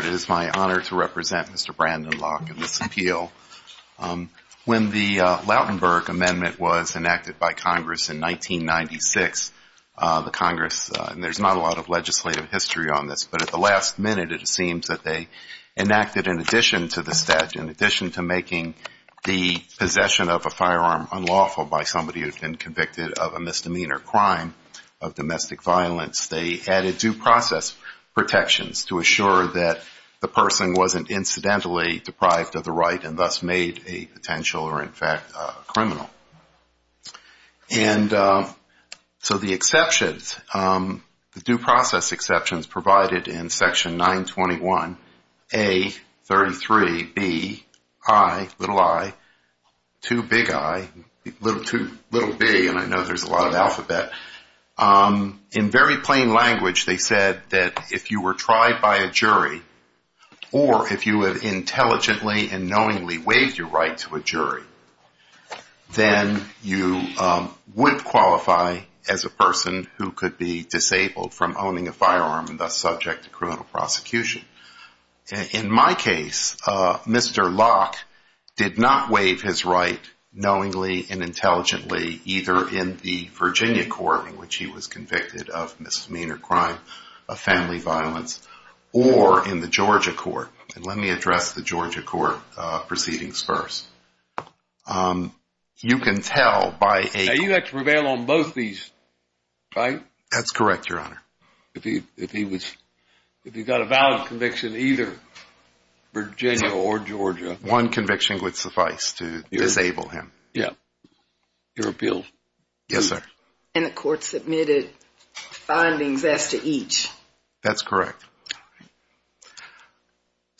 It is my honor to represent Mr. Brandon Locke in this appeal. When the Lautenberg Amendment was enacted by Congress in 1996, the Congress, and there's not a lot of legislative history on this, but at the last minute it seems that they enacted in addition to the statute, in by somebody who had been convicted of a misdemeanor crime of domestic violence, they added due process protections to assure that the person wasn't incidentally deprived of the right and thus made a potential or in fact a criminal. And so the exceptions, the due process exceptions provided in section 921, A, 33, B, I, little I, two big I, little B, and I know there's a lot of alphabet. In very plain language they said that if you were tried by a jury or if you had intelligently and knowingly waived your right to a jury, then you would qualify as a person who could be disabled from owning a firearm and thus subject to criminal prosecution. In my case, Mr. Locke did not waive his right knowingly and intelligently either in the Virginia court in which he was convicted of misdemeanor crime of family violence or in the Georgia court. Let me address the Georgia court proceedings first. You can tell by a. Now you have to prevail on both of these, right? That's correct, your honor. If he got a valid conviction either Virginia or Georgia. One conviction would suffice to disable him. Yeah. Your appeal. Yes, sir. And the court submitted findings as to each. That's correct.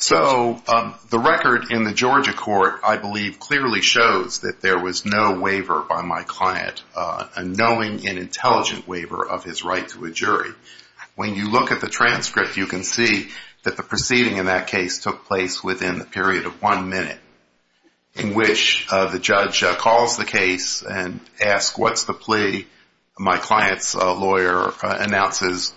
So the record in the Georgia court I believe clearly shows that there was no waiver by my client, a knowing and intelligent waiver of his right to a jury. When you look at the transcript you can see that the proceeding in that case took place within the period of one minute in which the judge calls the case and asks what's the plea. My client's attorney says,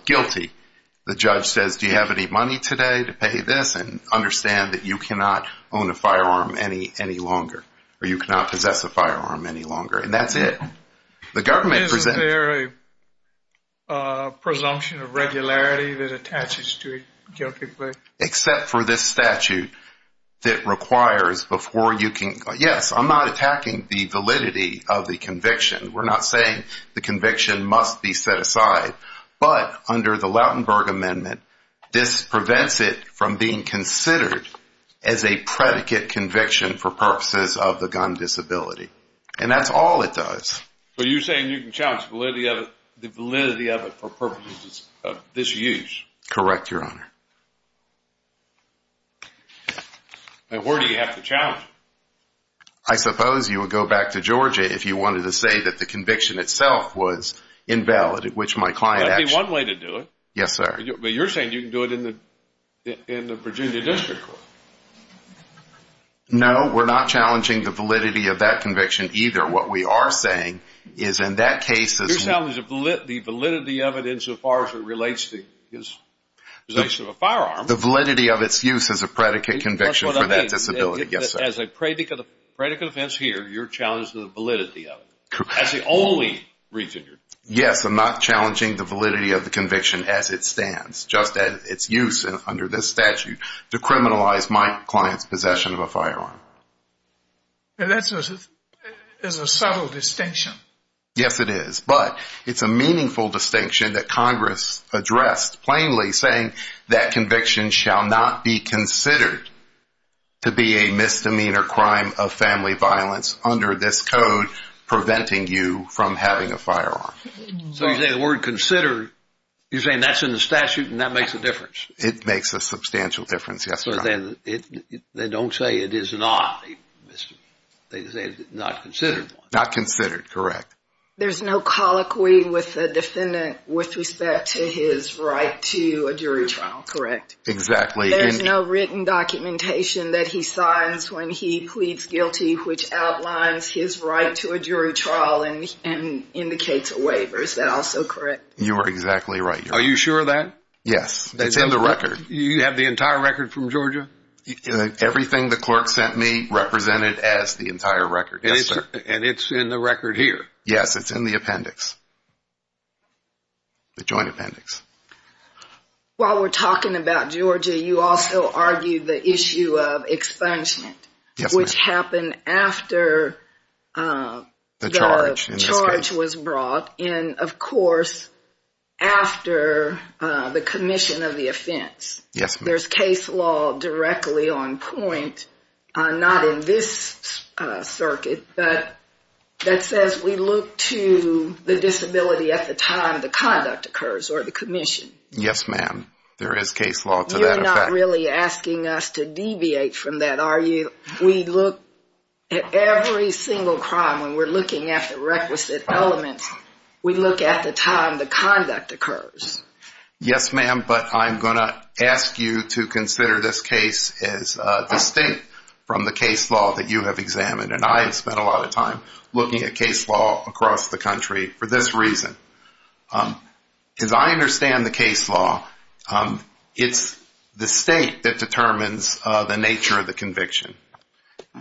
do you have any money today to pay this and understand that you cannot own a firearm any longer or you cannot possess a firearm any longer. And that's it. The government presented. Is there a presumption of regularity that attaches to it? Except for this statute that requires before you can. Yes, I'm not attacking the validity of the conviction. We're not saying the conviction must be set aside. But under the Lautenberg Amendment, this prevents it from being considered as a predicate conviction for purposes of the gun disability. And that's all it does. So you're saying you can challenge the validity of it for purposes of disuse? Correct, your honor. And where do you have to challenge it? I suppose you would go back to Georgia if you wanted to say that the conviction itself was invalid, which my client actually. That would be one way to do it. Yes, sir. But you're saying you can do it in the Virginia District Court. No, we're not challenging the validity of that conviction either. What we are saying is in that case. You're challenging the validity of it insofar as it relates to his possession of a firearm. The validity of its use as a predicate conviction for that disability, as a predicate offense here, you're challenging the validity of it. That's the only reason. Yes, I'm not challenging the validity of the conviction as it stands, just as its use under this statute to criminalize my client's possession of a firearm. And that is a subtle distinction. Yes, it is. But it's a meaningful distinction that Congress addressed, plainly saying that conviction shall not be considered to be a misdemeanor crime of family violence under this code, preventing you from having a firearm. So you're saying the word considered, you're saying that's in the statute and that makes a difference? It makes a substantial difference, yes, your honor. They don't say it is not. They say it's not considered. Not considered, correct. There's no colloquy with the defendant with respect to his right to a jury trial, correct? Exactly. There's no written documentation that he signs when he pleads guilty, which outlines his right to a jury trial and indicates a waiver. Is that also correct? You are exactly right. Are you sure of that? Yes, that's in the record. You have the entire record from Georgia? Everything the clerk sent me represented as the entire record. And it's in the record here? Yes, it's in the appendix. The joint appendix. While we're talking about Georgia, you also argued the issue of expungement, which happened after the charge was brought. And of course, after the commission of the offense, there's case law directly on point, not in this circuit, but that says we look to the disability at the time the conduct occurs or the commission. Yes, ma'am, there is case law to that effect. You're not really asking us to deviate from that, are you? We look at every single crime when we're looking at the requisite elements, we look at the time the conduct occurs. Yes, ma'am, but I'm going to ask you to consider this case as distinct from the case law that you have examined. And I have spent a lot of time looking at case law across the country for this reason. As I understand the case law, it's the state that determines the nature of the conviction.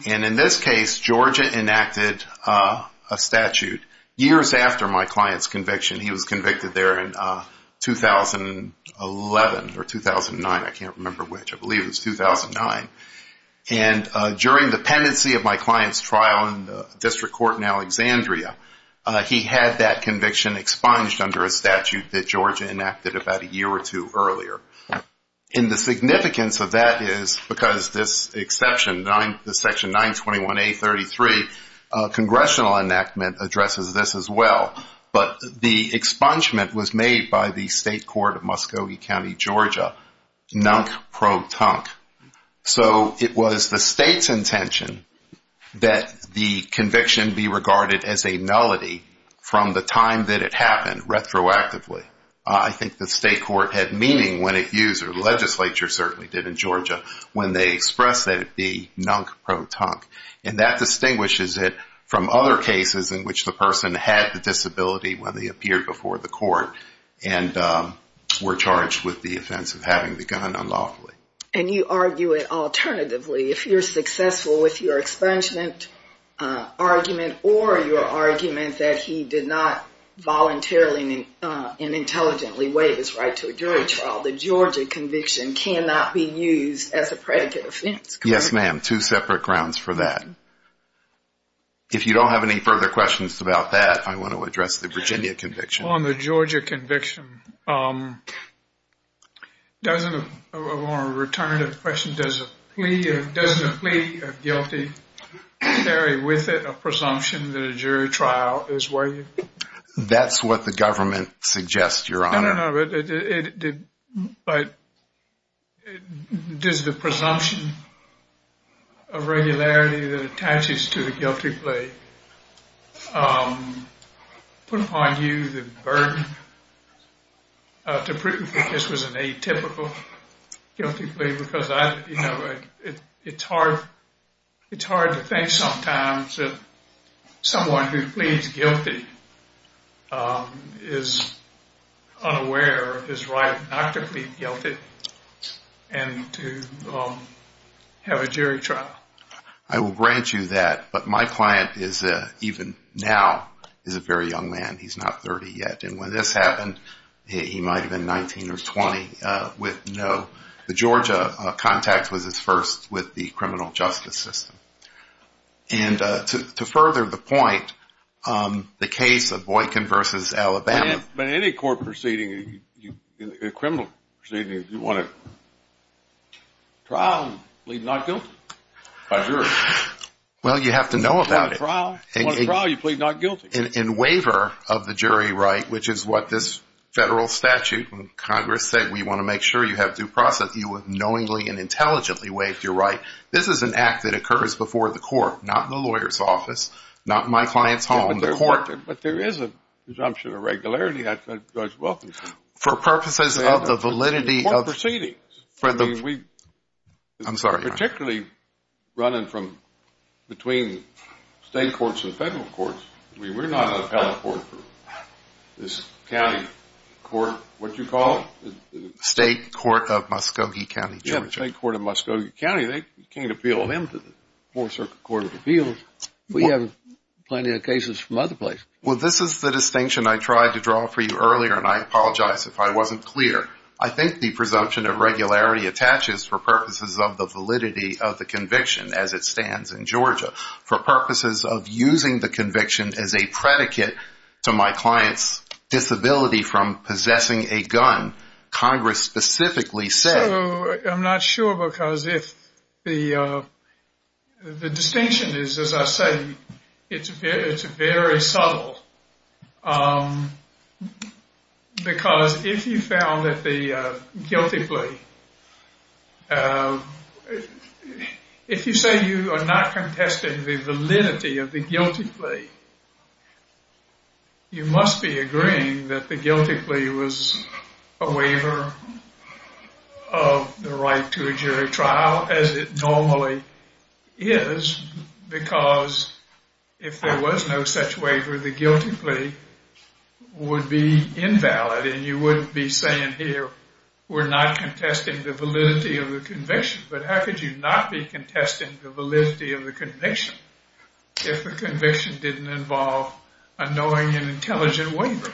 And in this case, Georgia enacted a statute years after my client's conviction. He was convicted there in 2011 or 2009. I can't remember which. I believe it was 2009. And during the pendency of my client's trial in the district court in Alexandria, he had that conviction expunged under a statute that Georgia enacted about a year or two earlier. And the significance of that is because this exception, the section 921 A33, congressional enactment addresses this as well. But the expungement was made by the state court of Muscogee County, Georgia, nunk pro tonk. So it was the state's intention that the conviction be regarded as a nullity from the time that it happened retroactively. I think the state court had meaning when it used, or the legislature certainly did in Georgia, when they expressed nunk pro tonk. And that distinguishes it from other cases in which the person had the disability when they appeared before the court and were charged with the offense of having the gun unlawfully. And you argue it alternatively. If you're successful with your expungement argument or your argument that he did not voluntarily and intelligently waive his right to a jury trial, the Georgia conviction cannot be used as a predicate offense. Yes, ma'am. Two separate grounds for that. If you don't have any further questions about that, I want to address the Virginia conviction. On the Georgia conviction, doesn't, I want to return to the question, doesn't a plea of guilty carry with it a presumption that it did, but does the presumption of regularity that attaches to the guilty plea put upon you the burden to prove that this was an atypical guilty plea? Because I, you know, it's hard, it's hard to think sometimes that someone who pleads guilty is unaware of his right not to plead guilty and to have a jury trial. I will grant you that. But my client is, even now, is a very young man. He's not 30 yet. And when this happened, he might have been 19 or 20 with no, the Georgia contact was his first with the criminal justice system. And to further the point, the case of Boykin versus Alabama. But any court proceeding, a criminal proceeding, you want a trial and plead not guilty by jury. Well, you have to know about it. If you want a trial, you plead not guilty. In waiver of the jury right, which is what this federal statute and Congress said, we want to make sure you have due process, you would knowingly and intelligently waive your right. This is an act that occurs before the court, not in the lawyer's office, not in my client's home, the court. But there is a presumption of regularity, Judge Wilkinson. For purposes of the validity of proceedings. I'm sorry. Particularly running from between state courts and federal courts. We were not an appellate court for this county court. What do you call it? State Court of Muskogee County, Georgia. State Court of Muskogee County. They can't appeal them to the Fourth Circuit Court of Appeals. We have plenty of cases from other places. Well, this is the distinction I tried to draw for you earlier. And I apologize if I wasn't clear. I think the presumption of regularity attaches for purposes of the validity of the conviction as it stands in Georgia. For purposes of using the conviction as a predicate to my client's disability from possessing a gun, Congress specifically said. I'm not sure because if the distinction is, as I say, it's very subtle. Because if you found that the guilty plea, if you say you are not contesting the validity of the guilty plea, you must be agreeing that the guilty plea was a waiver of the right to a jury trial as it normally is. Because if there was no such waiver, the guilty plea would be invalid. And you wouldn't be saying here, we're not contesting the validity of the conviction. But how could you not be contesting the validity of the conviction if the conviction didn't involve a knowing and intelligent waiver?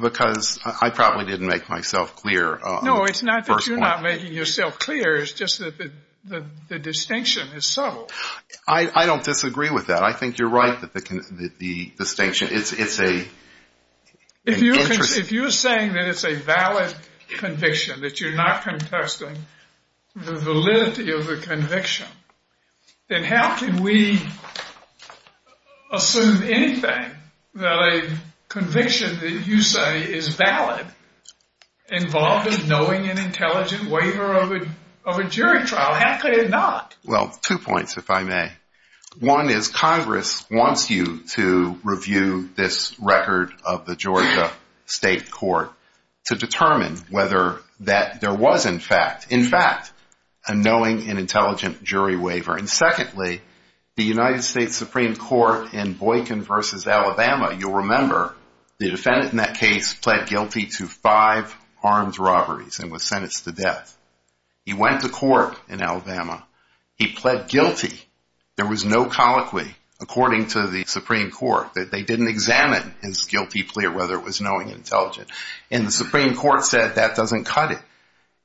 Because I probably didn't make myself clear. No, it's not that you're not making yourself clear. It's just that the distinction is subtle. I don't disagree with that. I think you're right that the distinction, it's a— If you're saying that it's a valid conviction, that you're not contesting the validity of the conviction, then how can we assume anything that a conviction that you say is valid involved a knowing and intelligent waiver of a jury trial? How could it not? Well, two points, if I may. One is Congress wants you to review this record of the Georgia state court to determine whether that there was, in fact, a knowing and intelligent jury waiver. And secondly, the United States Supreme Court in Boykin versus Alabama, you'll remember the defendant in that case pled guilty to five armed robberies and was sentenced to death. He went to court in Alabama. He pled guilty. There was no colloquy, according to the Supreme Court. They didn't examine his guilty plea or whether it was knowing and intelligent. And the Supreme Court said that doesn't cut it.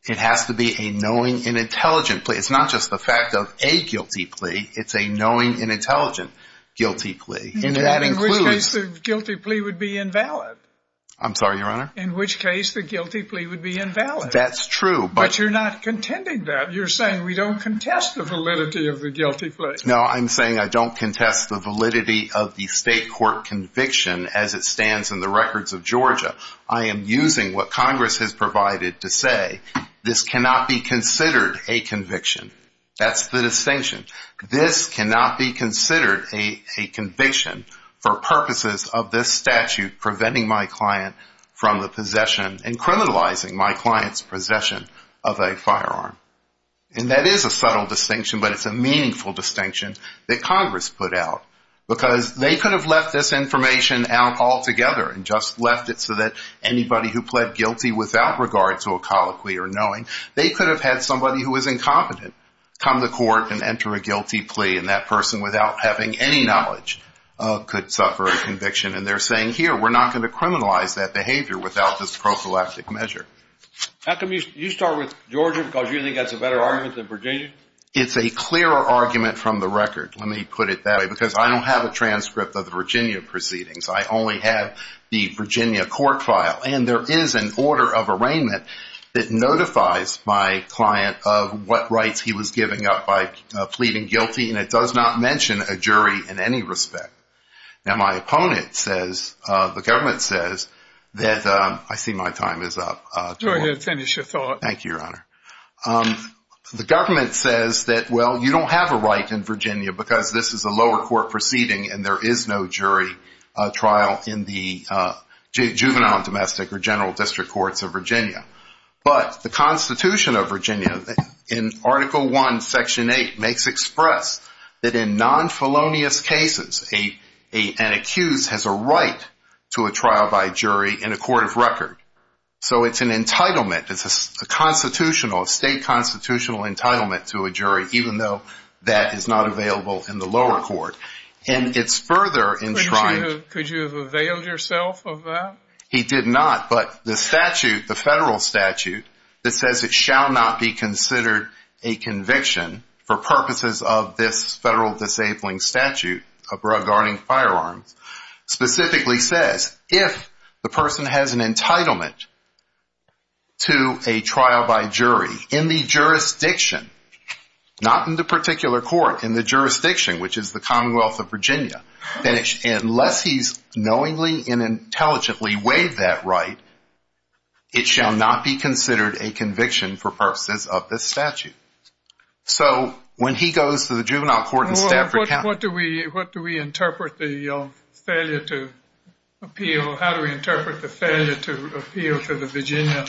It has to be a knowing and intelligent plea. It's not just the fact of a guilty plea. It's a knowing and intelligent guilty plea. And that includes— In which case, the guilty plea would be invalid. I'm sorry, Your Honor? In which case, the guilty plea would be invalid. That's true. But you're not contending that. You're saying we don't contest the validity of the guilty plea. No, I'm saying I don't contest the validity of the state court conviction as it stands in the records of Georgia. I am using what Congress has provided to say this cannot be considered a conviction. That's the distinction. This cannot be considered a conviction for purposes of this statute, preventing my client from the possession and criminalizing my client's possession of a firearm. And that is a subtle distinction, but it's a meaningful distinction that Congress put out because they could have left this information out altogether and just left it so that anybody who pled guilty without regard to a colloquy or knowing, they could have had somebody who was incompetent come to court and enter a guilty plea. And that person, without having any knowledge, could suffer a conviction. And they're saying, here, we're not going to criminalize that behavior without this prophylactic measure. How come you start with Georgia because you think that's a better argument than Virginia? It's a clearer argument from the record, let me put it that way, because I don't have a transcript of the Virginia proceedings. I only have the Virginia court file. And there is an order of arraignment that notifies my client of what rights he was giving up by pleading guilty, and it does not mention a jury in any respect. Now, my opponent says, the government says that, I see my time is up. Go ahead, finish your thought. Thank you, Your Honor. The government says that, well, you don't have a right in Virginia because this is a lower court proceeding and there is no jury trial in the juvenile and domestic or general district courts of Virginia. But the Constitution of Virginia in Article 1, Section 8, makes express that in non-felonious cases, an accused has a right to a trial by jury in a court of record. So it's an entitlement. It's a constitutional, a state constitutional entitlement to a jury, even though that is not available in the lower court. And it's further enshrined- Could you have availed yourself of that? He did not. But the statute, the federal statute that says it shall not be considered a conviction for purposes of this federal disabling statute regarding firearms, specifically says, if the person has an entitlement to a trial by jury in the jurisdiction, not in the particular court, in the jurisdiction, which is the Commonwealth of Virginia, then unless he's knowingly and intelligently waived that right, it shall not be considered a conviction for purposes of this statute. So when he goes to the juvenile court in Stafford County- What do we interpret the failure to appeal? How do we interpret the failure to appeal to the Virginia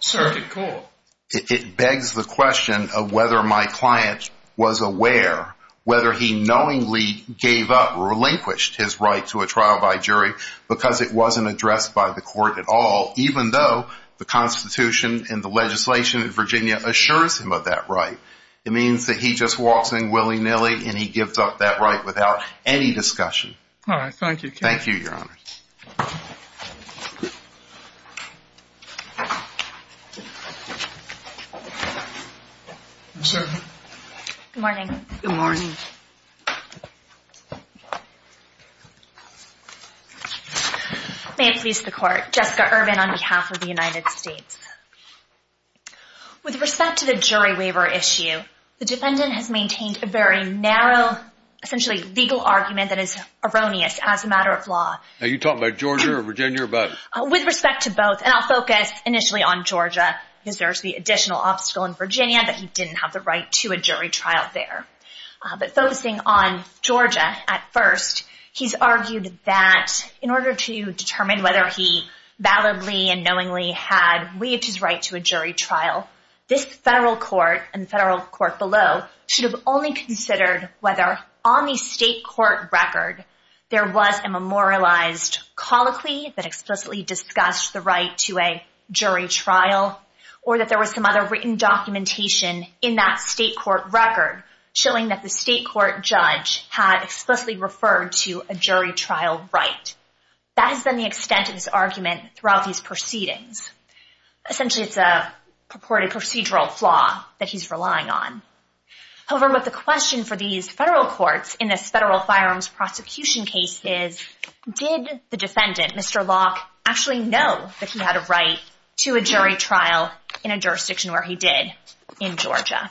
Circuit Court? It begs the question of whether my client was aware, whether he knowingly gave up or relinquished his right to a trial by jury because it wasn't addressed by the court at all, even though the Constitution and the legislation in Virginia assures him of that right. It means that he just walks in willy-nilly and he gives up that right without any discussion. All right. Thank you. Thank you, Your Honor. Good morning. Good morning. May it please the Court, Jessica Irvin on behalf of the United States. With respect to the jury waiver issue, the defendant has maintained a very narrow, essentially legal argument that is erroneous as a matter of law. Are you talking about Georgia or Virginia or both? With respect to both, and I'll focus initially on Georgia because there's the additional obstacle in Virginia that he didn't have the right to a jury trial there. But focusing on Georgia at first, he's argued that in order to determine whether he validly and knowingly had waived his right to a jury trial, this federal court and the federal court below should have only considered whether on the state court record there was a memorialized colloquy that explicitly discussed the right to a jury trial or that there was some other written documentation in that state court record showing that the state court judge had explicitly referred to a jury trial right. That has been the extent of this argument throughout these proceedings. Essentially, it's a purported procedural flaw that he's relying on. However, with the question for these federal courts in this federal firearms prosecution cases, did the defendant, Mr. Locke, actually know that he had a right to a jury trial in a jurisdiction where he did in Georgia?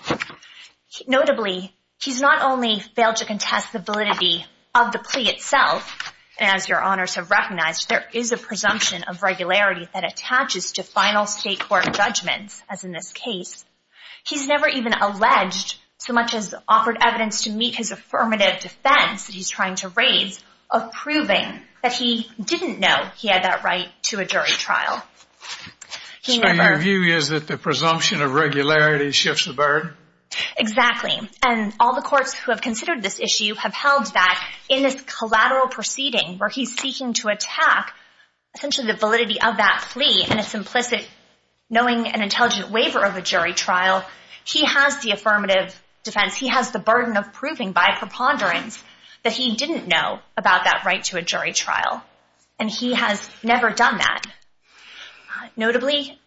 Notably, he's not only failed to contest the validity of the plea itself, as your honors have recognized, there is a presumption of regularity that attaches to final state court judgments, as in this case. He's never even alleged so much as offered evidence to meet his affirmative defense that he's trying to raise of proving that he didn't know he had that right to a jury trial. So your view is that the presumption of regularity shifts the bird? Exactly. And all the courts who have considered this issue have held that in this collateral proceeding where he's seeking to attack essentially the validity of that plea and it's implicit knowing an intelligent waiver of a jury trial, he has the affirmative defense. He has the burden of proving by preponderance that he didn't know about that right to a jury trial. And he has never done that. Notably,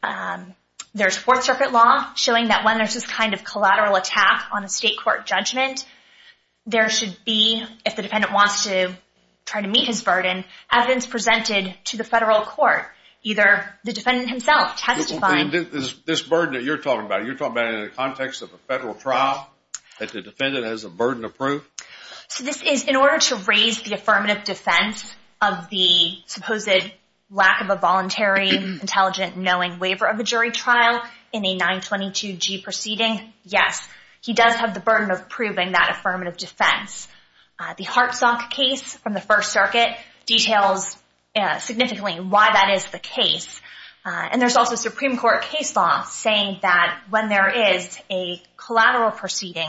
there's Fourth Circuit law showing that when there's this kind of collateral attack on a state court judgment, there should be, if the defendant wants to try to meet his burden, evidence presented to the federal court. Either the defendant himself testifying... This burden that you're talking about, you're talking about in the context of a federal trial that the defendant has a burden of proof? So this is in order to raise the affirmative defense of the supposed lack of a voluntary intelligent knowing waiver of a jury trial in a 922G proceeding. Yes, he does have the burden of proving that affirmative defense. The Hartzok case from the First Circuit details significantly why that is the case. And there's also Supreme Court case law saying that when there is a collateral proceeding,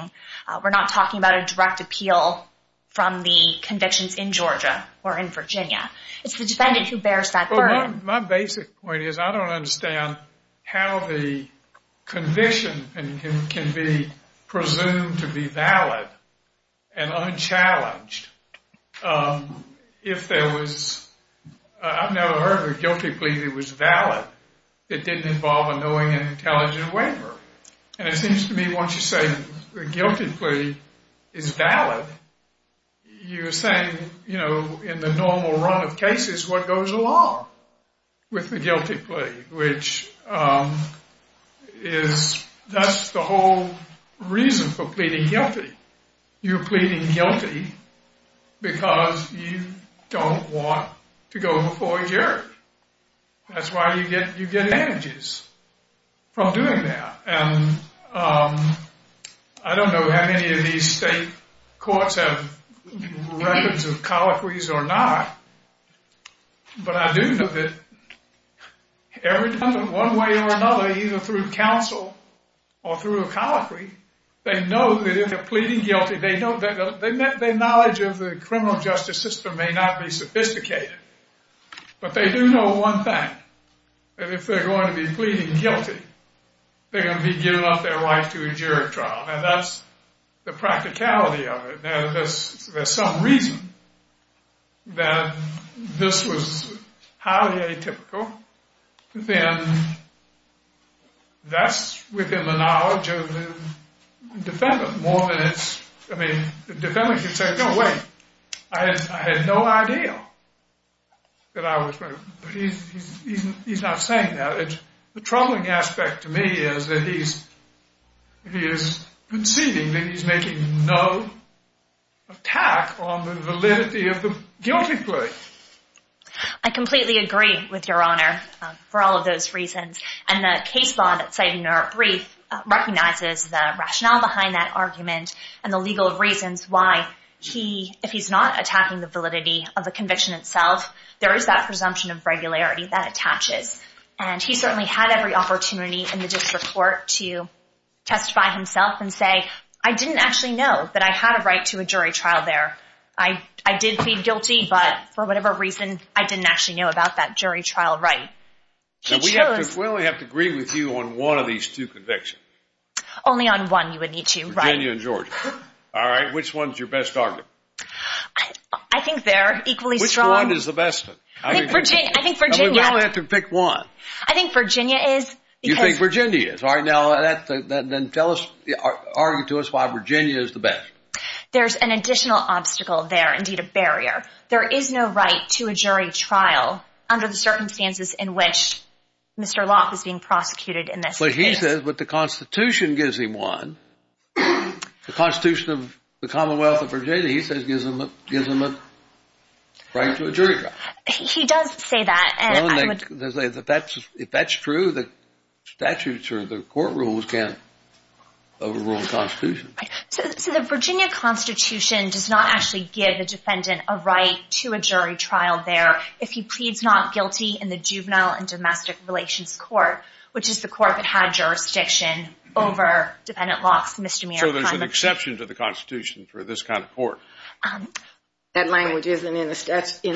we're not talking about a direct appeal from the convictions in Georgia or in Virginia. It's the defendant who bears that burden. My basic point is I don't understand how the conviction can be presumed to be valid and unchallenged if there was... I've never heard of a guilty plea that was valid that didn't involve a knowing and intelligent waiver. And it seems to me once you say the guilty plea is valid, you're saying, you know, in the normal run of cases, what goes along with the guilty plea, which is that's the whole reason for pleading guilty. You're pleading guilty because you don't want to go before a jury. That's why you get advantages from doing that. And I don't know how many of these state courts have records of colloquies or not, but I do know that every time in one way or another, either through counsel or through a colloquy, they know that if they're pleading guilty, they know that their knowledge of the criminal justice system may not be sophisticated. But they do know one thing, that if they're going to be pleading guilty, they're going to be giving up their life to a jury trial. And that's the practicality of it. Now, if there's some reason that this was highly atypical, then that's within the knowledge of the defendant. More than it's... I mean, the defendant could say, no, wait, I had no idea that I was... He's not saying that. The troubling aspect to me is that he is conceding that he's making no attack on the validity of the guilty plea. I completely agree with Your Honor for all of those reasons. And the case law that's cited in your brief recognizes the rationale behind that argument and the legal reasons why he, if he's not attacking the validity of the conviction itself, there is that presumption of regularity that attaches. And he certainly had every opportunity in the district court to testify himself and say, I didn't actually know that I had a right to a jury trial there. I did plead guilty, but for whatever reason, I didn't actually know about that jury trial right. Now, we have to... Well, we have to agree with you on one of these two convictions. Only on one you would need to write. Virginia and Georgia. All right. Which one's your best argument? I think they're equally strong. Which one is the best one? I think Virginia. I think Virginia. I think Virginia is... You think Virginia is. All right. Now, then tell us, argue to us why Virginia is the best. There's an additional obstacle there. Indeed, a barrier. There is no right to a jury trial under the circumstances in which Mr. Locke is being prosecuted in this case. But he says what the Constitution gives him one. The Constitution of the Commonwealth of Virginia, he says, gives him a right to a jury trial. He does say that. Well, if that's true, the statutes or the court rules can't overrule the Constitution. So the Virginia Constitution does not actually give the defendant a right to a jury trial there if he pleads not guilty in the Juvenile and Domestic Relations Court, which is the court that had jurisdiction over Dependent Locke's misdemeanor crime. So there's an exception to the Constitution for this kind of court. That language isn't in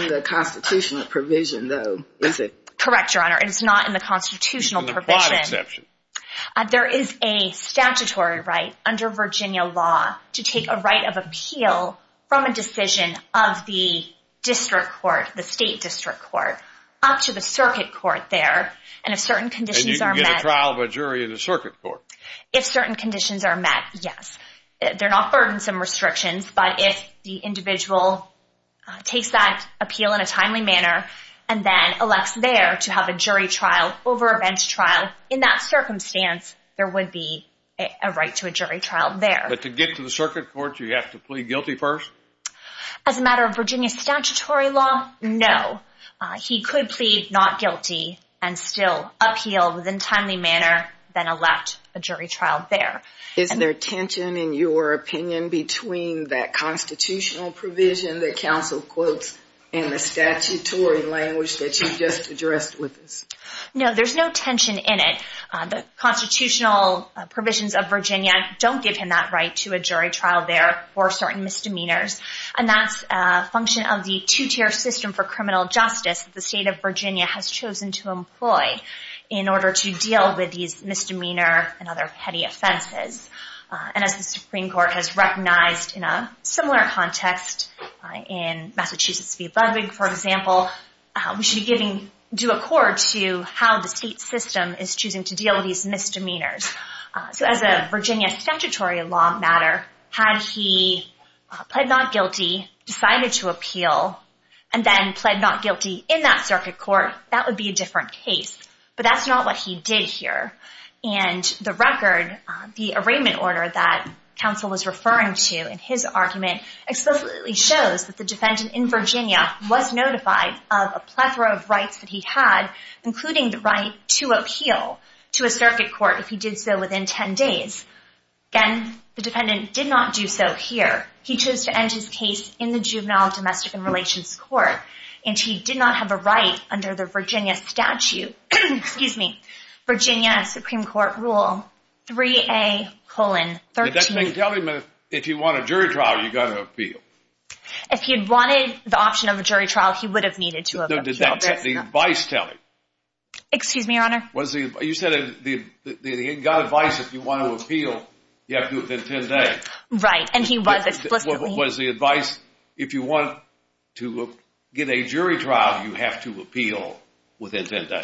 the Constitutional provision, though, is it? Correct, Your Honor. It is not in the Constitutional provision. It's a broad exception. There is a statutory right under Virginia law to take a right of appeal from a decision of the district court, the state district court, up to the circuit court there. And if certain conditions are met. And you can get a trial of a jury in the circuit court. If certain conditions are met, yes. They're not burdensome restrictions. But if the individual takes that appeal in a timely manner and then elects there to have a jury trial over a bench trial, in that circumstance, there would be a right to a jury trial there. But to get to the circuit court, do you have to plead guilty first? As a matter of Virginia statutory law, no. He could plead not guilty and still appeal within a timely manner, then elect a jury trial there. Is there tension, in your opinion, between that Constitutional provision that counsel quotes and the statutory language that you just addressed with us? No, there's no tension in it. The Constitutional provisions of Virginia don't give him that right to a jury trial there for certain misdemeanors. And that's a function of the two-tier system for criminal justice the state of Virginia has chosen to employ in order to deal with these misdemeanor and other petty offenses. And as the Supreme Court has recognized in a similar context in Massachusetts v. Ludwig, for example, we should do accord to how the state system is choosing to deal with these misdemeanors. So as a Virginia statutory law matter, had he pled not guilty, decided to appeal, and then pled not guilty in that circuit court, that would be a different case. But that's not what he did here. And the record, the arraignment order that counsel was referring to in his argument explicitly shows that the defendant in Virginia was notified of a plethora of rights that he had, including the right to appeal to a circuit court if he did so within 10 days. Again, the defendant did not do so here. He chose to end his case in the juvenile domestic and relations court. And he did not have a right under the Virginia statute. Excuse me. Virginia Supreme Court rule 3A colon 13. Did that thing tell him if you want a jury trial, you've got to appeal? If he had wanted the option of a jury trial, he would have needed to have appealed. Did the advice tell him? Excuse me, Your Honor? You said he got advice if you want to appeal, you have to do it within 10 days. Right, and he was explicitly. Was the advice, if you want to get a jury trial, you have to appeal within 10 days?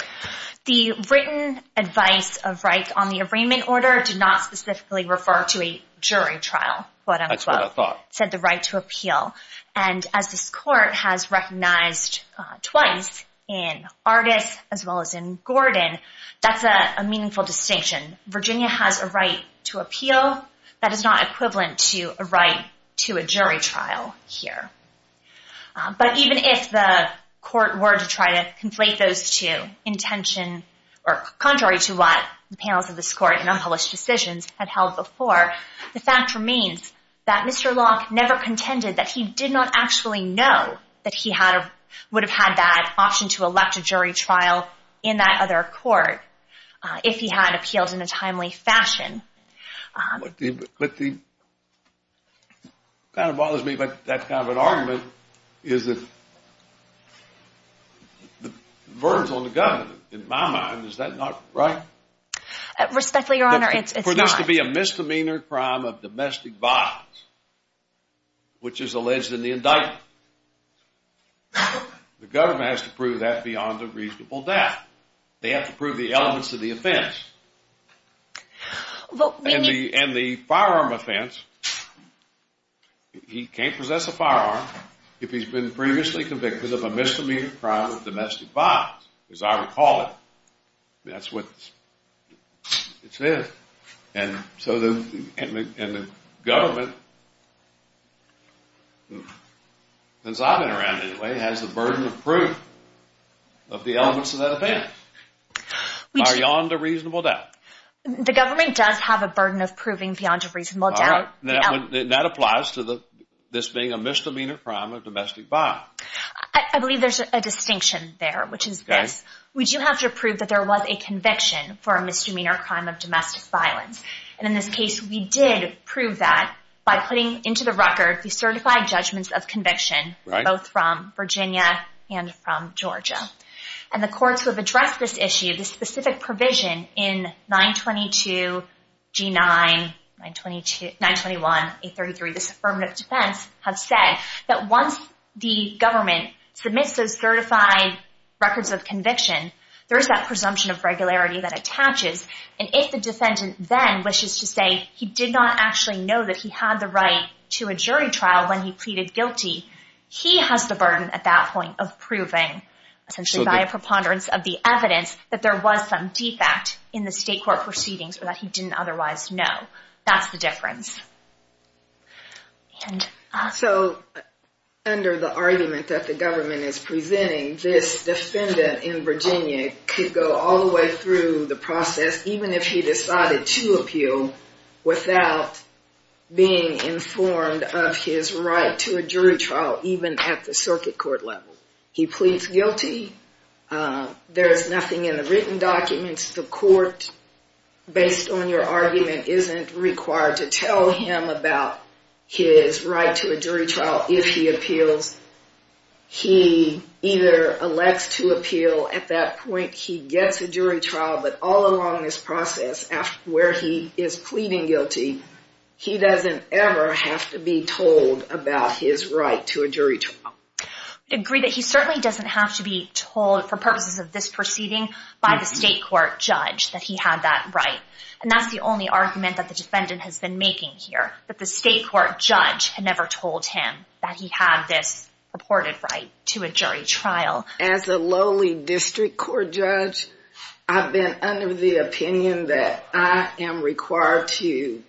The written advice of right on the arraignment order did not specifically refer to a jury trial, quote unquote. That's what I thought. Said the right to appeal. And as this court has recognized twice in Ardis as well as in Gordon, that's a meaningful distinction. Virginia has a right to appeal. That is not equivalent to a right to a jury trial here. But even if the court were to try to conflate those two, intention or contrary to what the panels of this court and unpublished decisions had held before, the fact remains that Mr. Locke never contended that he did not actually know that he would have had that option to elect a jury trial in that other court if he had appealed in a timely fashion. What kind of bothers me about that kind of an argument is that the verdict on the government, in my mind, is that not right? Respectfully, Your Honor, it's not. For this to be a misdemeanor crime of domestic violence, which is alleged in the indictment, the government has to prove that beyond a reasonable doubt. They have to prove the elements of the offense. And the firearm offense, he can't possess a firearm. If he's been previously convicted of a misdemeanor crime of domestic violence, as I recall it, that's what it says. And so the government, since I've been around anyway, has the burden of proof of the elements of that offense beyond a reasonable doubt. The government does have a burden of proving beyond a reasonable doubt. That applies to this being a misdemeanor crime of domestic violence. I believe there's a distinction there, which is this. We do have to prove that there was a conviction for a misdemeanor crime of domestic violence. And in this case, we did prove that by putting into the record the certified judgments of conviction, both from Virginia and from Georgia. And the courts who have addressed this issue, the specific provision in 922, G9, 921, 833, this affirmative defense, have said that once the government submits those certified records of conviction, there is that presumption of regularity that attaches. And if the defendant then wishes to say he did not actually know that he had the right to a jury trial when he pleaded guilty, he has the burden at that point of proving, essentially, by a preponderance of the evidence that there was some defect in the state court proceedings or that he didn't otherwise know. That's the difference. So under the argument that the government is presenting, this defendant in Virginia could go all the way through the process, even if he decided to appeal, without being informed of his right to a jury trial, even at the circuit court level. He pleads guilty. There is nothing in the written documents. isn't required to tell the court. him about his right to a jury trial if he appeals. He either elects to appeal. At that point, he gets a jury trial. But all along this process, where he is pleading guilty, he doesn't ever have to be told about his right to a jury trial. I agree that he certainly doesn't have to be told, for purposes of this proceeding, by the state court judge that he had that right. And that's the only argument that the defendant has been making here. But the state court judge had never told him that he had this purported right to a jury trial. As a lowly district court judge, I've been under the opinion that I am required to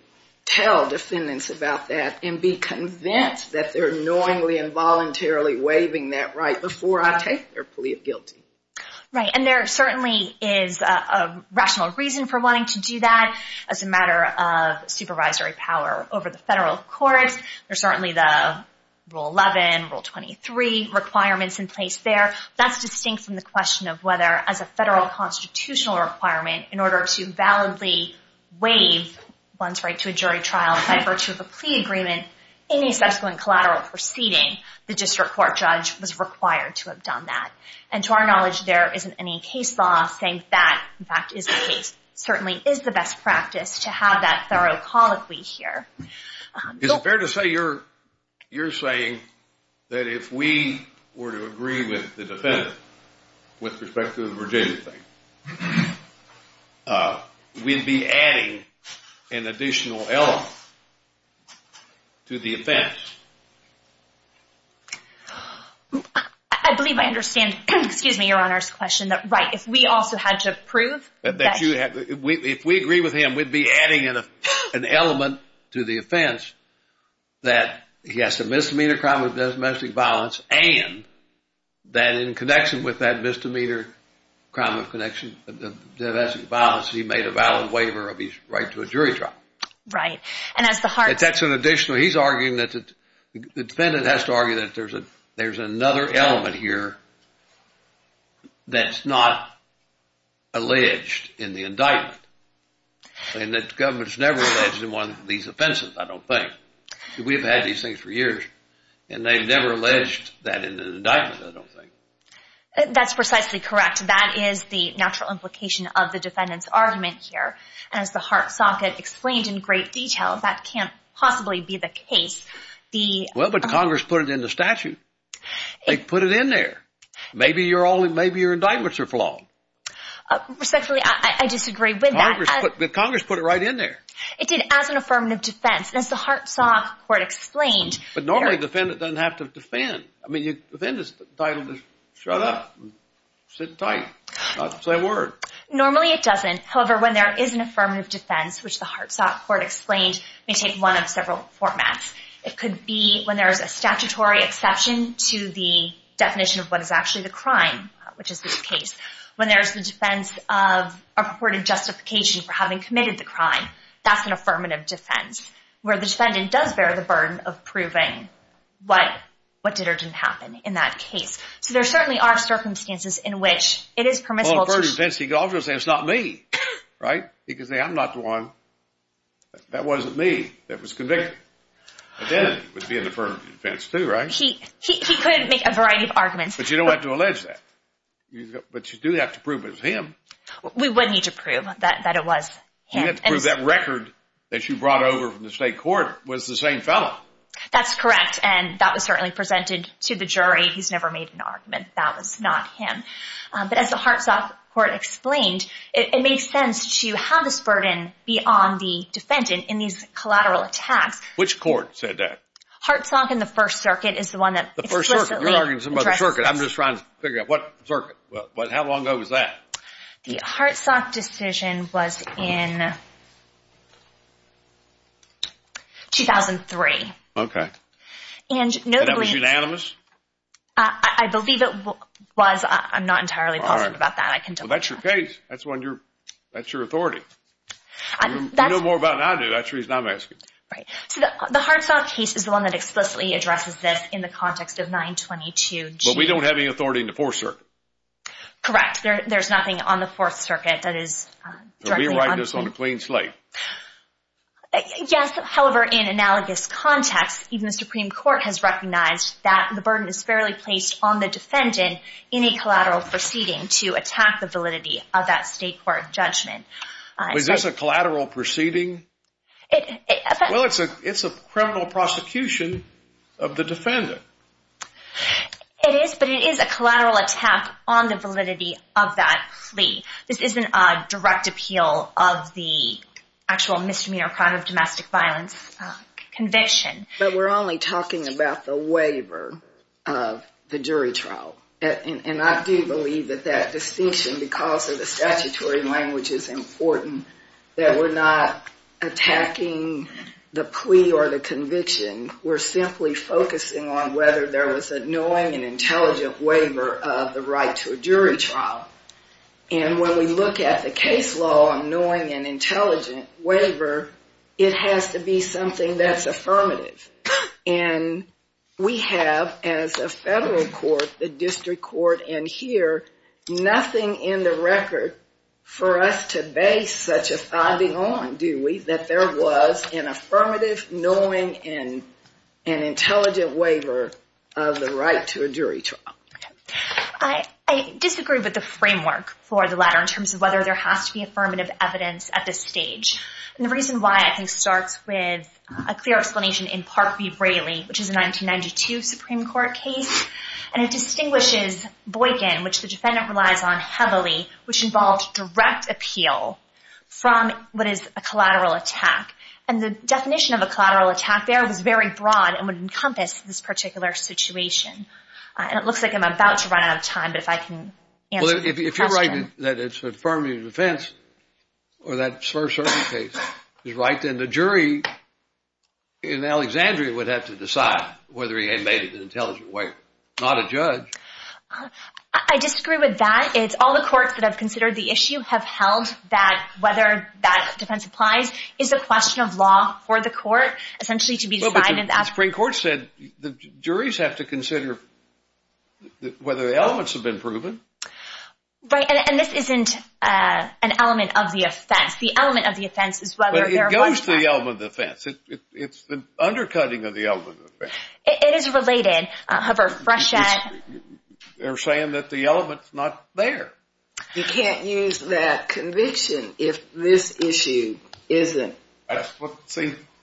tell defendants about that and be convinced that they're knowingly and voluntarily waiving that right before I take their plea of guilty. Right. And there certainly is a rational reason for wanting to do that as a matter of supervisory power over the federal courts. There's certainly the Rule 11, Rule 23 requirements in place there. That's distinct from the question of whether, as a federal constitutional requirement, in order to validly waive one's right to a jury trial by virtue of a plea agreement in a subsequent collateral proceeding, the district court judge was required to have done that. And to our knowledge, there isn't any case law saying that, in fact, is the case. Certainly is the best practice to have that thorough colloquy here. Is it fair to say you're saying that if we were to agree with the defendant with respect to the Virginia thing, we'd be adding an additional element to the offense? I believe I understand, excuse me, Your Honor's question, that right, we also had to prove that you have, if we agree with him, we'd be adding an element to the offense that he has to misdemeanor crime of domestic violence and that in connection with that misdemeanor crime of connection of domestic violence, he made a valid waiver of his right to a jury trial. Right. And that's an additional, he's arguing that the defendant has to argue that there's another element here that's not alleged in the indictment. And that the government's never alleged in one of these offenses, I don't think. We've had these things for years, and they've never alleged that in an indictment, I don't think. That's precisely correct. That is the natural implication of the defendant's argument here. As the Hart Socket explained in great detail, that can't possibly be the case. Well, but Congress put it in the statute. They put it in there. Maybe your indictments are flawed. Respectfully, I disagree with that. Congress put it right in there. It did, as an affirmative defense. And as the Hart Sock Court explained- But normally the defendant doesn't have to defend. I mean, the defendant is entitled to shut up, sit tight, not to say a word. Normally it doesn't. However, when there is an affirmative defense, which the Hart Sock Court explained, may take one of several formats. It could be when there's a statutory exception to the definition of what is actually the crime, which is this case. When there's the defense of a purported justification for having committed the crime, that's an affirmative defense, where the defendant does bear the burden of proving what did or didn't happen in that case. So there certainly are circumstances in which it is permissible to- Well, an affirmative defense, he could also say, it's not me, right? He could say, I'm not the one. That wasn't me that was convicted. Identity would be an affirmative defense too, right? He could make a variety of arguments. But you don't have to allege that. But you do have to prove it was him. We would need to prove that it was him. You have to prove that record that you brought over from the state court was the same fellow. That's correct. And that was certainly presented to the jury. He's never made an argument that was not him. But as the Hart Sock Court explained, it makes sense to have this burden be on the defendant in these collateral attacks. Which court said that? Hart Sock and the First Circuit is the one that- The First Circuit. You're arguing something about the circuit. I'm just trying to figure out what circuit. How long ago was that? The Hart Sock decision was in 2003. Okay. And notably- And that was unanimous? I believe it was. I'm not entirely positive about that. I can tell. That's your case. That's your authority. You know more about it than I do. That's the reason I'm asking. Right. The Hart Sock case is the one that explicitly addresses this in the context of 922G. But we don't have any authority in the Fourth Circuit. Correct. There's nothing on the Fourth Circuit that is- We write this on a clean slate. Yes. However, in analogous context, even the Supreme Court has recognized that the burden is fairly placed on the defendant in a collateral proceeding to attack the validity of that state court judgment. Is this a collateral proceeding? Well, it's a criminal prosecution of the defendant. It is, but it is a collateral attack on the validity of that plea. This isn't a direct appeal of the actual misdemeanor crime of domestic violence conviction. But we're only talking about the waiver of the jury trial. And I do believe that that distinction, because of the statutory language, is important that we're not attacking the plea or the conviction. We're simply focusing on whether there was a knowing and intelligent waiver of the right to a jury trial. And when we look at the case law on knowing and intelligent waiver, it has to be something that's affirmative. And we have, as a federal court, the district court and here, nothing in the record for us to base such a finding on, do we, that there was an affirmative, knowing, and intelligent waiver of the right to a jury trial. I disagree with the framework for the latter in terms of whether there has to be affirmative evidence at this stage. And the reason why, I think, starts with a clear explanation in Park v. Braley, which is a 1992 Supreme Court case. And it distinguishes Boykin, which the defendant relies on heavily, which involved direct appeal from what is a collateral attack. And the definition of a collateral attack there was very broad and would encompass this particular situation. And it looks like I'm about to run out of time, but if I can answer the question. Well, if you're writing that it's affirmative defense or that slur-surfing case is right, then the jury in Alexandria would have to decide whether he had made it an intelligent waiver, not a judge. I disagree with that. All the courts that have considered the issue have held that whether that defense applies is a question of law for the court, essentially, to be defined in that. Well, but the Supreme Court said the juries have to consider whether the elements have been proven. Right, and this isn't an element of the offense. The element of the offense is whether there was that. But it goes to the element of the offense. It's the undercutting of the element of the offense. It is related, however, Frechette... They're saying that the element's not there. You can't use that conviction if this issue isn't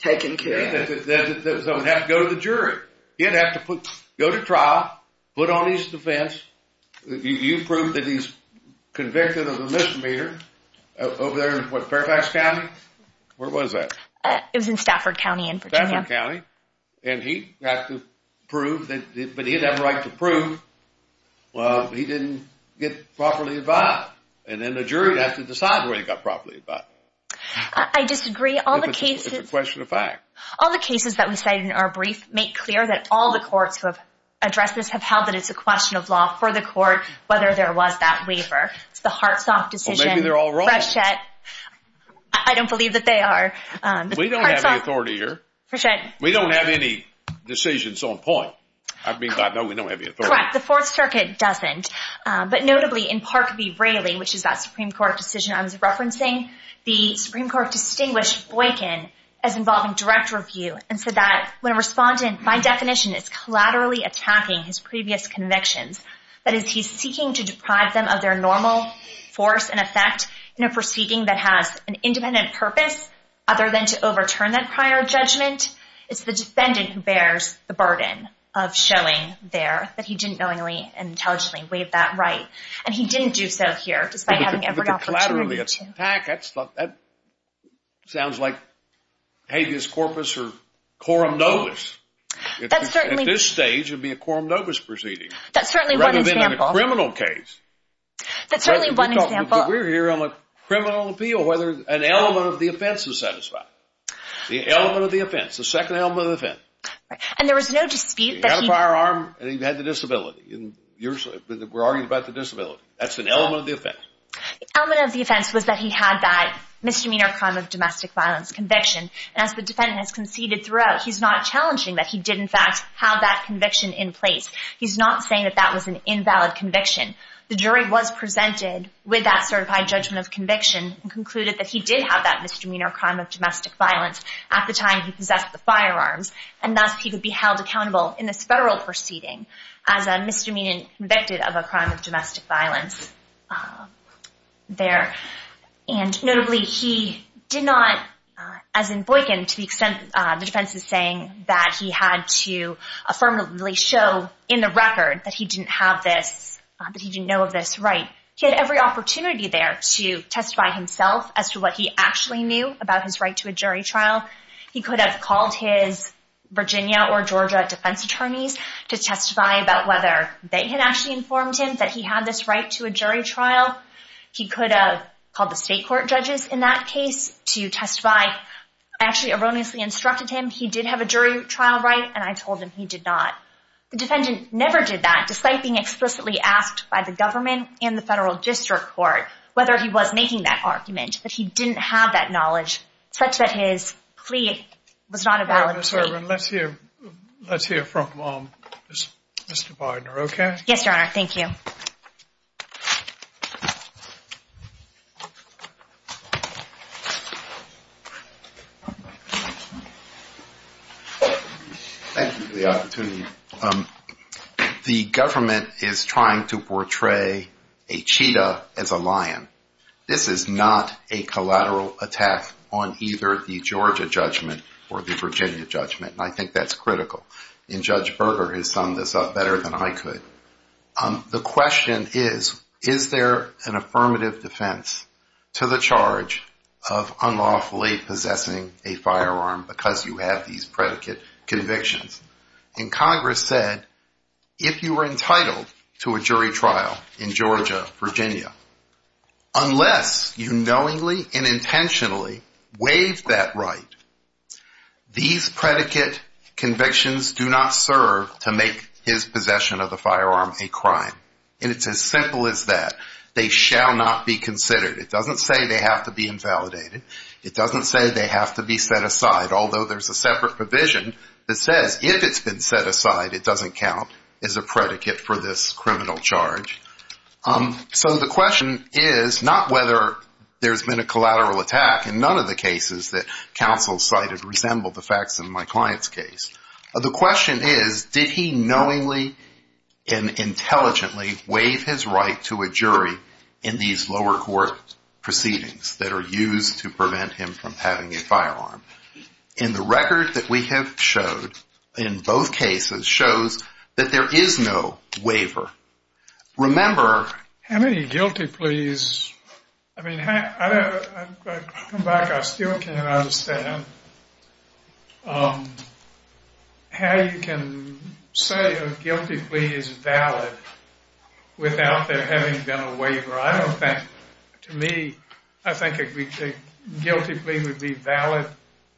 taken care of. Then someone would have to go to the jury. He'd have to go to trial, put on his defense. You proved that he's convicted of a misdemeanor over there in, what, Fairfax County? Where was that? It was in Stafford County in Virginia. Stafford County. And he'd have to prove that... Well, he didn't get properly advised. And then the jury'd have to decide where he got properly advised. I disagree. All the cases... If it's a question of fact. All the cases that we cited in our brief make clear that all the courts who have addressed this have held that it's a question of law for the court whether there was that waiver. It's the Hartsoft decision. Well, maybe they're all wrong. Frechette, I don't believe that they are. We don't have any authority here. Frechette. We don't have any decisions on point. I mean, I know we don't have the authority. The Fourth Circuit doesn't. But notably, in Park v. Braley, which is that Supreme Court decision I was referencing, the Supreme Court distinguished Boykin as involving direct review and said that when a respondent, by definition, is collaterally attacking his previous convictions, that is, he's seeking to deprive them of their normal force and effect in a proceeding that has an independent purpose other than to overturn that prior judgment, it's the defendant who bears the burden of showing there that he didn't knowingly and intelligently waive that right. And he didn't do so here, despite having every opportunity to. But the collaterally attack, that sounds like habeas corpus or quorum novus. That's certainly. At this stage, it would be a quorum novus proceeding. That's certainly one example. Rather than a criminal case. That's certainly one example. But we're here on a criminal appeal, whether an element of the offense is satisfied. The element of the offense, the second element of the offense. And there was no dispute. He had a firearm and he had the disability. We're arguing about the disability. That's an element of the offense. The element of the offense was that he had that misdemeanor crime of domestic violence conviction. And as the defendant has conceded throughout, he's not challenging that he did, in fact, have that conviction in place. He's not saying that that was an invalid conviction. The jury was presented with that certified judgment of conviction and concluded that he did have that misdemeanor crime of domestic violence at the time he possessed the firearms. And thus, he could be held accountable in this federal proceeding as a misdemeanor convicted of a crime of domestic violence there. And notably, he did not, as in Boykin, to the extent the defense is saying that he had to affirmatively show in the record that he didn't have this, that he didn't know of this right. He had every opportunity there to testify himself as to what he actually knew about his right to a jury trial. He could have called his Virginia or Georgia defense attorneys to testify about whether they had actually informed him that he had this right to a jury trial. He could have called the state court judges in that case to testify. I actually erroneously instructed him he did have a jury trial right, and I told him he did not. The defendant never did that, despite being explicitly asked by the government and the federal district court whether he was making that argument, that he didn't have that knowledge, such that his plea was not a valid plea. Ms. Ervin, let's hear from Mr. Bidner, okay? Yes, Your Honor, thank you. Thank you for the opportunity. The government is trying to portray a cheetah as a lion. This is not a collateral attack on either the Georgia judgment or the Virginia judgment, and I think that's critical. And Judge Berger has summed this up better than I could. The question is, is there an affirmative defense to the charge of unlawfully possessing a firearm because you have these predicate convictions? And Congress said, if you were entitled to a jury trial in Georgia, Virginia, unless you knowingly and intentionally waived that right, these predicate convictions do not serve to make his possession of the firearm a crime. And it's as simple as that. They shall not be considered. It doesn't say they have to be invalidated. It doesn't say they have to be set aside, although there's a separate provision that says if it's been set aside, it doesn't count as a predicate for this criminal charge. So the question is not whether there's been a collateral attack in none of the cases that counsel cited resemble the facts in my client's case. The question is, did he knowingly and intelligently waive his right to a jury in these lower court proceedings that are used to prevent him from having a firearm? And the record that we have showed in both cases shows that there is no waiver. Remember, how many guilty pleas? I mean, I come back. I still can't understand how you can say a guilty plea is valid without there having been a waiver. I don't think, to me, I think a guilty plea would be valid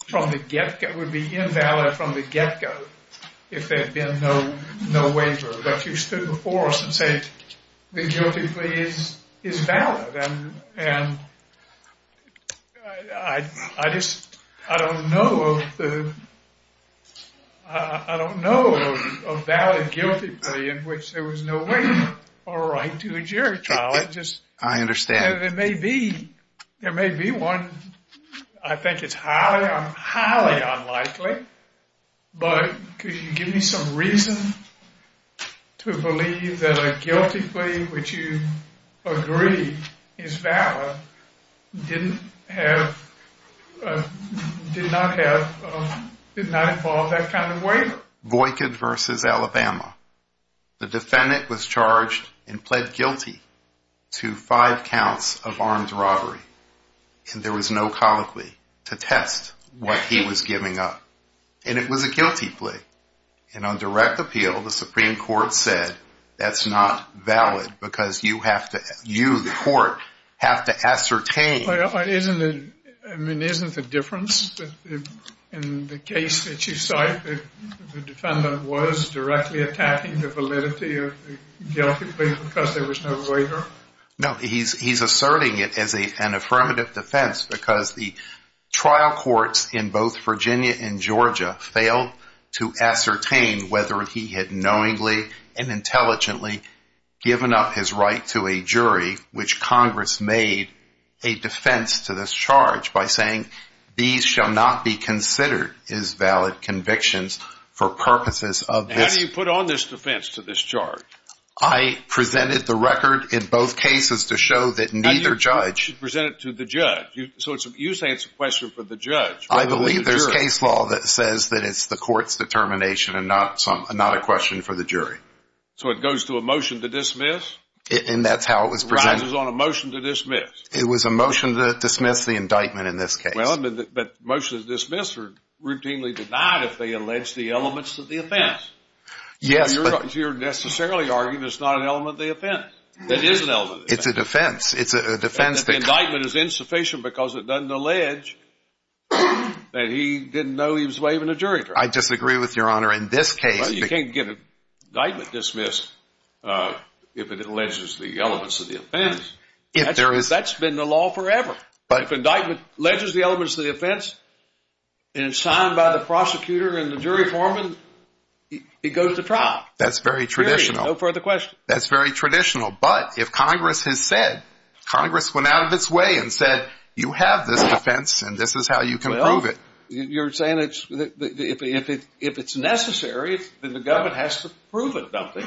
from the get-go, would be invalid from the get-go if there had been no waiver. But you stood before us and said the guilty plea is valid. And I just, I don't know of the, I don't know of a valid guilty plea in which there was no waiver or right to a jury trial. It just, it may be, there may be one. I think it's highly unlikely. But could you give me some reason to believe that a guilty plea, which you agree is valid, didn't have, did not have, did not involve that kind of waiver? Boycott versus Alabama. The defendant was charged and pled guilty to five counts of armed robbery. And there was no colloquy to test what he was giving up. And it was a guilty plea. And on direct appeal, the Supreme Court said that's not valid because you have to, you, the court, have to ascertain. Well, isn't it, I mean, isn't the difference in the case that you cite that the defendant was directly attacking the validity of the guilty plea because there was no waiver? No, he's asserting it as an affirmative defense because the trial courts in both Virginia and Georgia failed to ascertain whether he had knowingly and intelligently given up his right to a jury, which Congress made a defense to this charge by saying, these shall not be considered as valid convictions for purposes of this. How do you put on this defense to this charge? I presented the record in both cases to show that neither judge. How do you present it to the judge? So it's, you say it's a question for the judge. I believe there's case law that says that it's the court's determination and not a question for the jury. So it goes to a motion to dismiss? And that's how it was presented. It rises on a motion to dismiss. It was a motion to dismiss the indictment in this case. Well, but motions dismissed are routinely denied if they allege the elements of the offense. Yes, but. You're necessarily arguing it's not an element of the offense. It is an element of the offense. It's a defense. It's a defense that. The indictment is insufficient because it doesn't allege that he didn't know he was waiving a jury charge. I disagree with your honor. In this case. You can't get an indictment dismissed if it alleges the elements of the offense. That's been the law forever. But if indictment alleges the elements of the offense and it's signed by the prosecutor and the jury foreman, it goes to trial. That's very traditional. No further question. That's very traditional. But if Congress has said, Congress went out of its way and said, you have this defense and this is how you can prove it. You're saying it's. If it's necessary, the government has to prove it, don't they?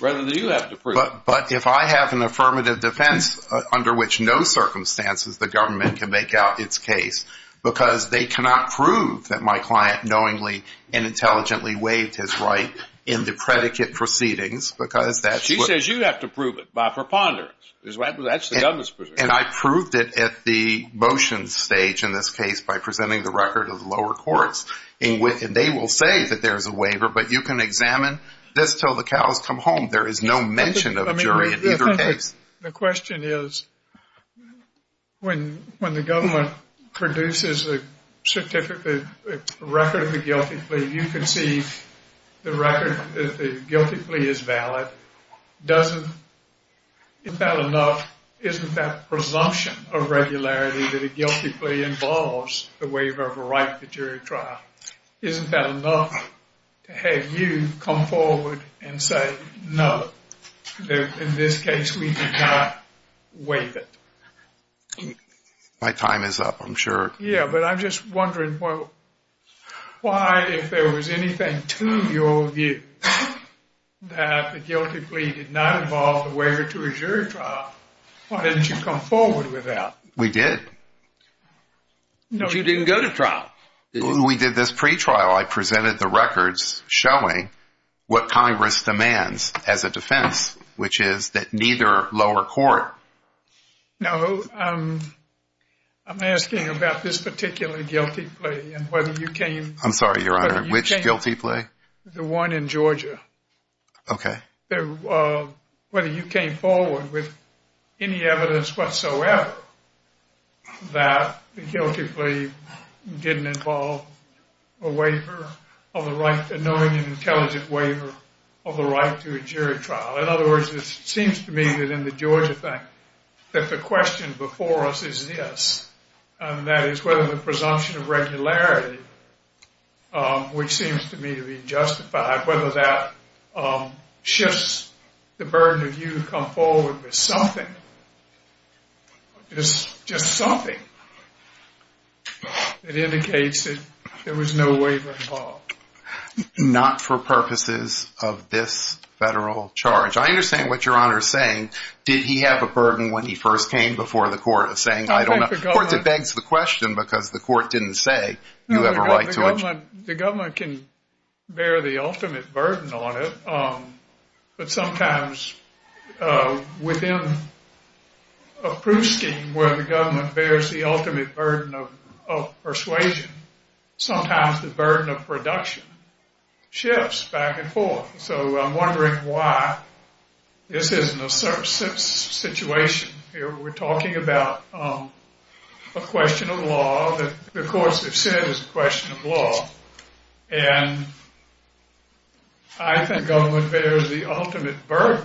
Rather than you have to prove it. But if I have an affirmative defense under which no circumstances the government can make out its case because they cannot prove that my client knowingly and intelligently waived his right in the predicate proceedings because she says you have to prove it by preponderance. That's the government's position. And I proved it at the motion stage in this case by presenting the record of the lower courts. And they will say that there's a waiver, but you can examine this till the cows come home. There is no mention of a jury in either case. The question is, when the government produces a certificate record of a guilty plea, you can see the record that the guilty plea is valid. Doesn't, isn't that enough? Isn't that presumption of regularity that a guilty plea involves the waiver of a right to jury trial? Isn't that enough to have you come forward and say, no, in this case, we did not waive it. My time is up, I'm sure. Yeah, but I'm just wondering, why, if there was anything to your view that the guilty plea did not involve the waiver to a jury trial, why didn't you come forward with that? We did. No, you didn't go to trial. We did this pre-trial. I presented the records showing what Congress demands as a defense, which is that neither lower court. No, I'm asking about this particular guilty plea and whether you came. I'm sorry, Your Honor, which guilty plea? The one in Georgia. Okay. Whether you came forward with any evidence whatsoever that the guilty plea didn't involve a waiver of the right, a knowing and intelligent waiver of the right to a jury trial. In other words, it seems to me that in the Georgia thing, that the question before us is this, and that is whether the presumption of regularity, which seems to me to be justified, whether that shifts the burden of you to come forward with something, just something that indicates that there was no waiver involved. Not for purposes of this federal charge. I understand what Your Honor is saying. Did he have a burden when he first came before the court of saying, I don't know? Of course, it begs the question because the court didn't say you have a right to a jury trial. The government can bear the ultimate burden on it, but sometimes within a proof scheme where the government bears the ultimate burden of persuasion, sometimes the burden of production shifts back and forth. So I'm wondering why this isn't a certain situation here. We're talking about a question of law that the courts have said is a question of law, and I think government bears the ultimate burden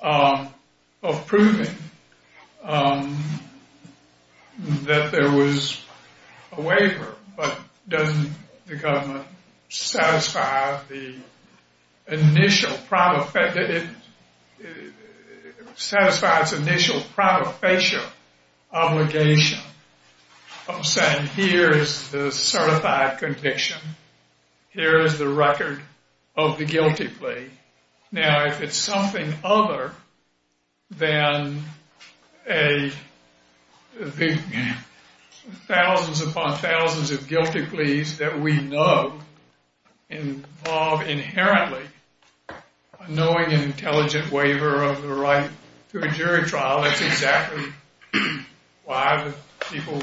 of proving that there was a waiver, but doesn't the government satisfy the initial, satisfy its initial protofacial obligation of saying here is the certified conviction, here is the record of the guilty plea. Now, if it's something other than a thousands upon thousands of guilty pleas that we know involve inherently knowing an intelligent waiver of the right to a jury trial, that's exactly why the people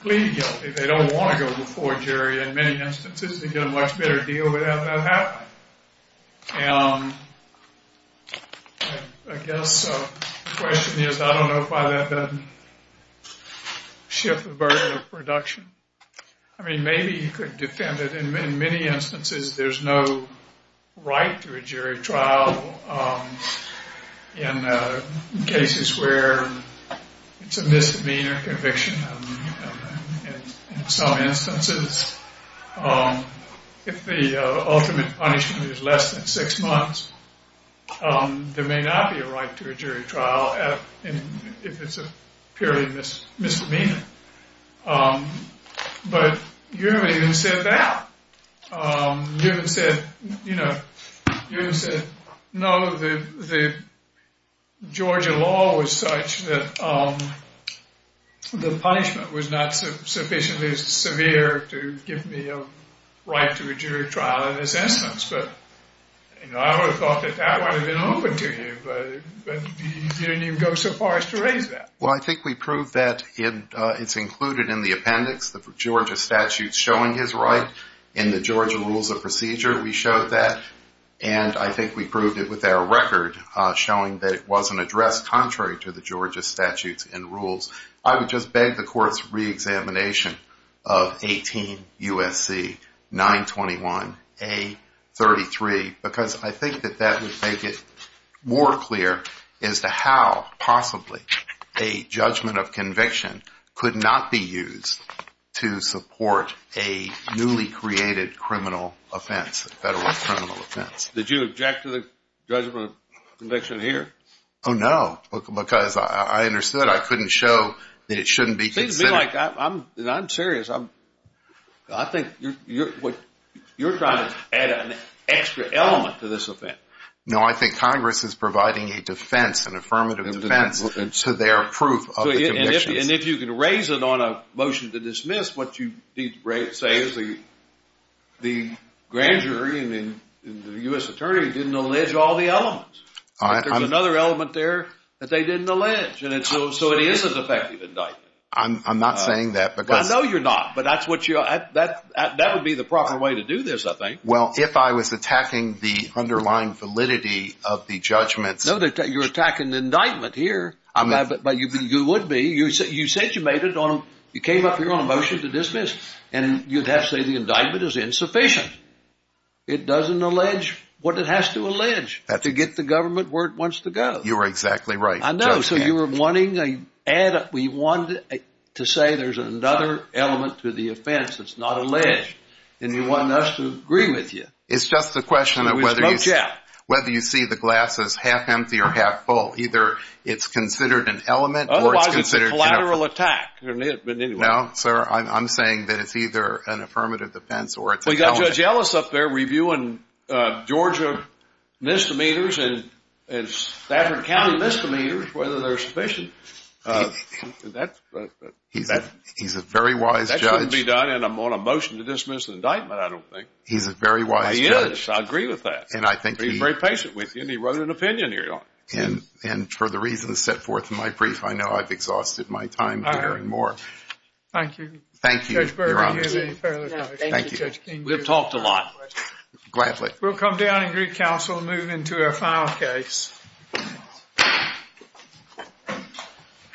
plead guilty. They don't want to go before a jury in many instances. They get a much better deal without that happening. I guess the question is, I don't know if that doesn't shift the burden of production. I mean, maybe you could defend it. In many instances, there's no right to a jury trial in cases where it's a misdemeanor conviction. In some instances, if the ultimate punishment is less than six months, there may not be a right to a jury trial if it's a purely misdemeanor. But you haven't even said that. You haven't said, you haven't said, no, the Georgia law was such that the punishment was not sufficiently severe to give me a right to a jury trial in this instance. But I would have thought that that would have been open to you, but you didn't even go so far as to raise that. Well, I think we proved that it's included in the appendix, the Georgia statutes showing his right in the Georgia Rules of Procedure. We showed that, and I think we proved it with our record showing that it was an address contrary to the Georgia statutes and rules. I would just beg the court's re-examination of 18 U.S.C. 921-A-33 because I think that that would make it more clear as to how possibly a judgment of conviction could not be used to support a newly created criminal offense, federal criminal offense. Did you object to the judgment of conviction here? Oh, no, because I understood. I couldn't show that it shouldn't be considered. It seems to me like I'm serious. I think you're trying to add an extra element to this offense. No, I think Congress is providing a defense, an affirmative defense to their proof of the conviction. And if you can raise it on a motion to dismiss, what you need to say is the grand jury and the U.S. attorney didn't allege all the elements. There's another element there that they didn't allege, so it is an effective indictment. I'm not saying that. I know you're not, but that would be the proper way to do this, I think. Well, if I was attacking the underlying validity of the judgments... No, you're attacking the indictment here, but you would be. You said you came up here on a motion to dismiss, and you'd have to say the indictment is insufficient. It doesn't allege what it has to allege to get the government where it wants to go. You are exactly right. I know. So you were wanting to add... We wanted to say there's another element to the offense that's not alleged, and you want us to agree with you. It's just a question of whether you see the glass is half empty or half full. Either it's considered an element... Otherwise it's a collateral attack. No, sir, I'm saying that it's either an affirmative defense or... We got Judge Ellis up there reviewing Georgia misdemeanors and Stafford County misdemeanors, whether they're sufficient. He's a very wise judge. That shouldn't be done, and I'm on a motion to dismiss the indictment, I don't think. He's a very wise judge. He is. I agree with that. And I think he... He's very patient with you, and he wrote an opinion here. And for the reasons set forth in my brief, I know I've exhausted my time here and more. Thank you. Thank you, Your Honor. Thank you, Judge King. We've talked a lot. Gladly. We'll come down and greet counsel moving into our final case.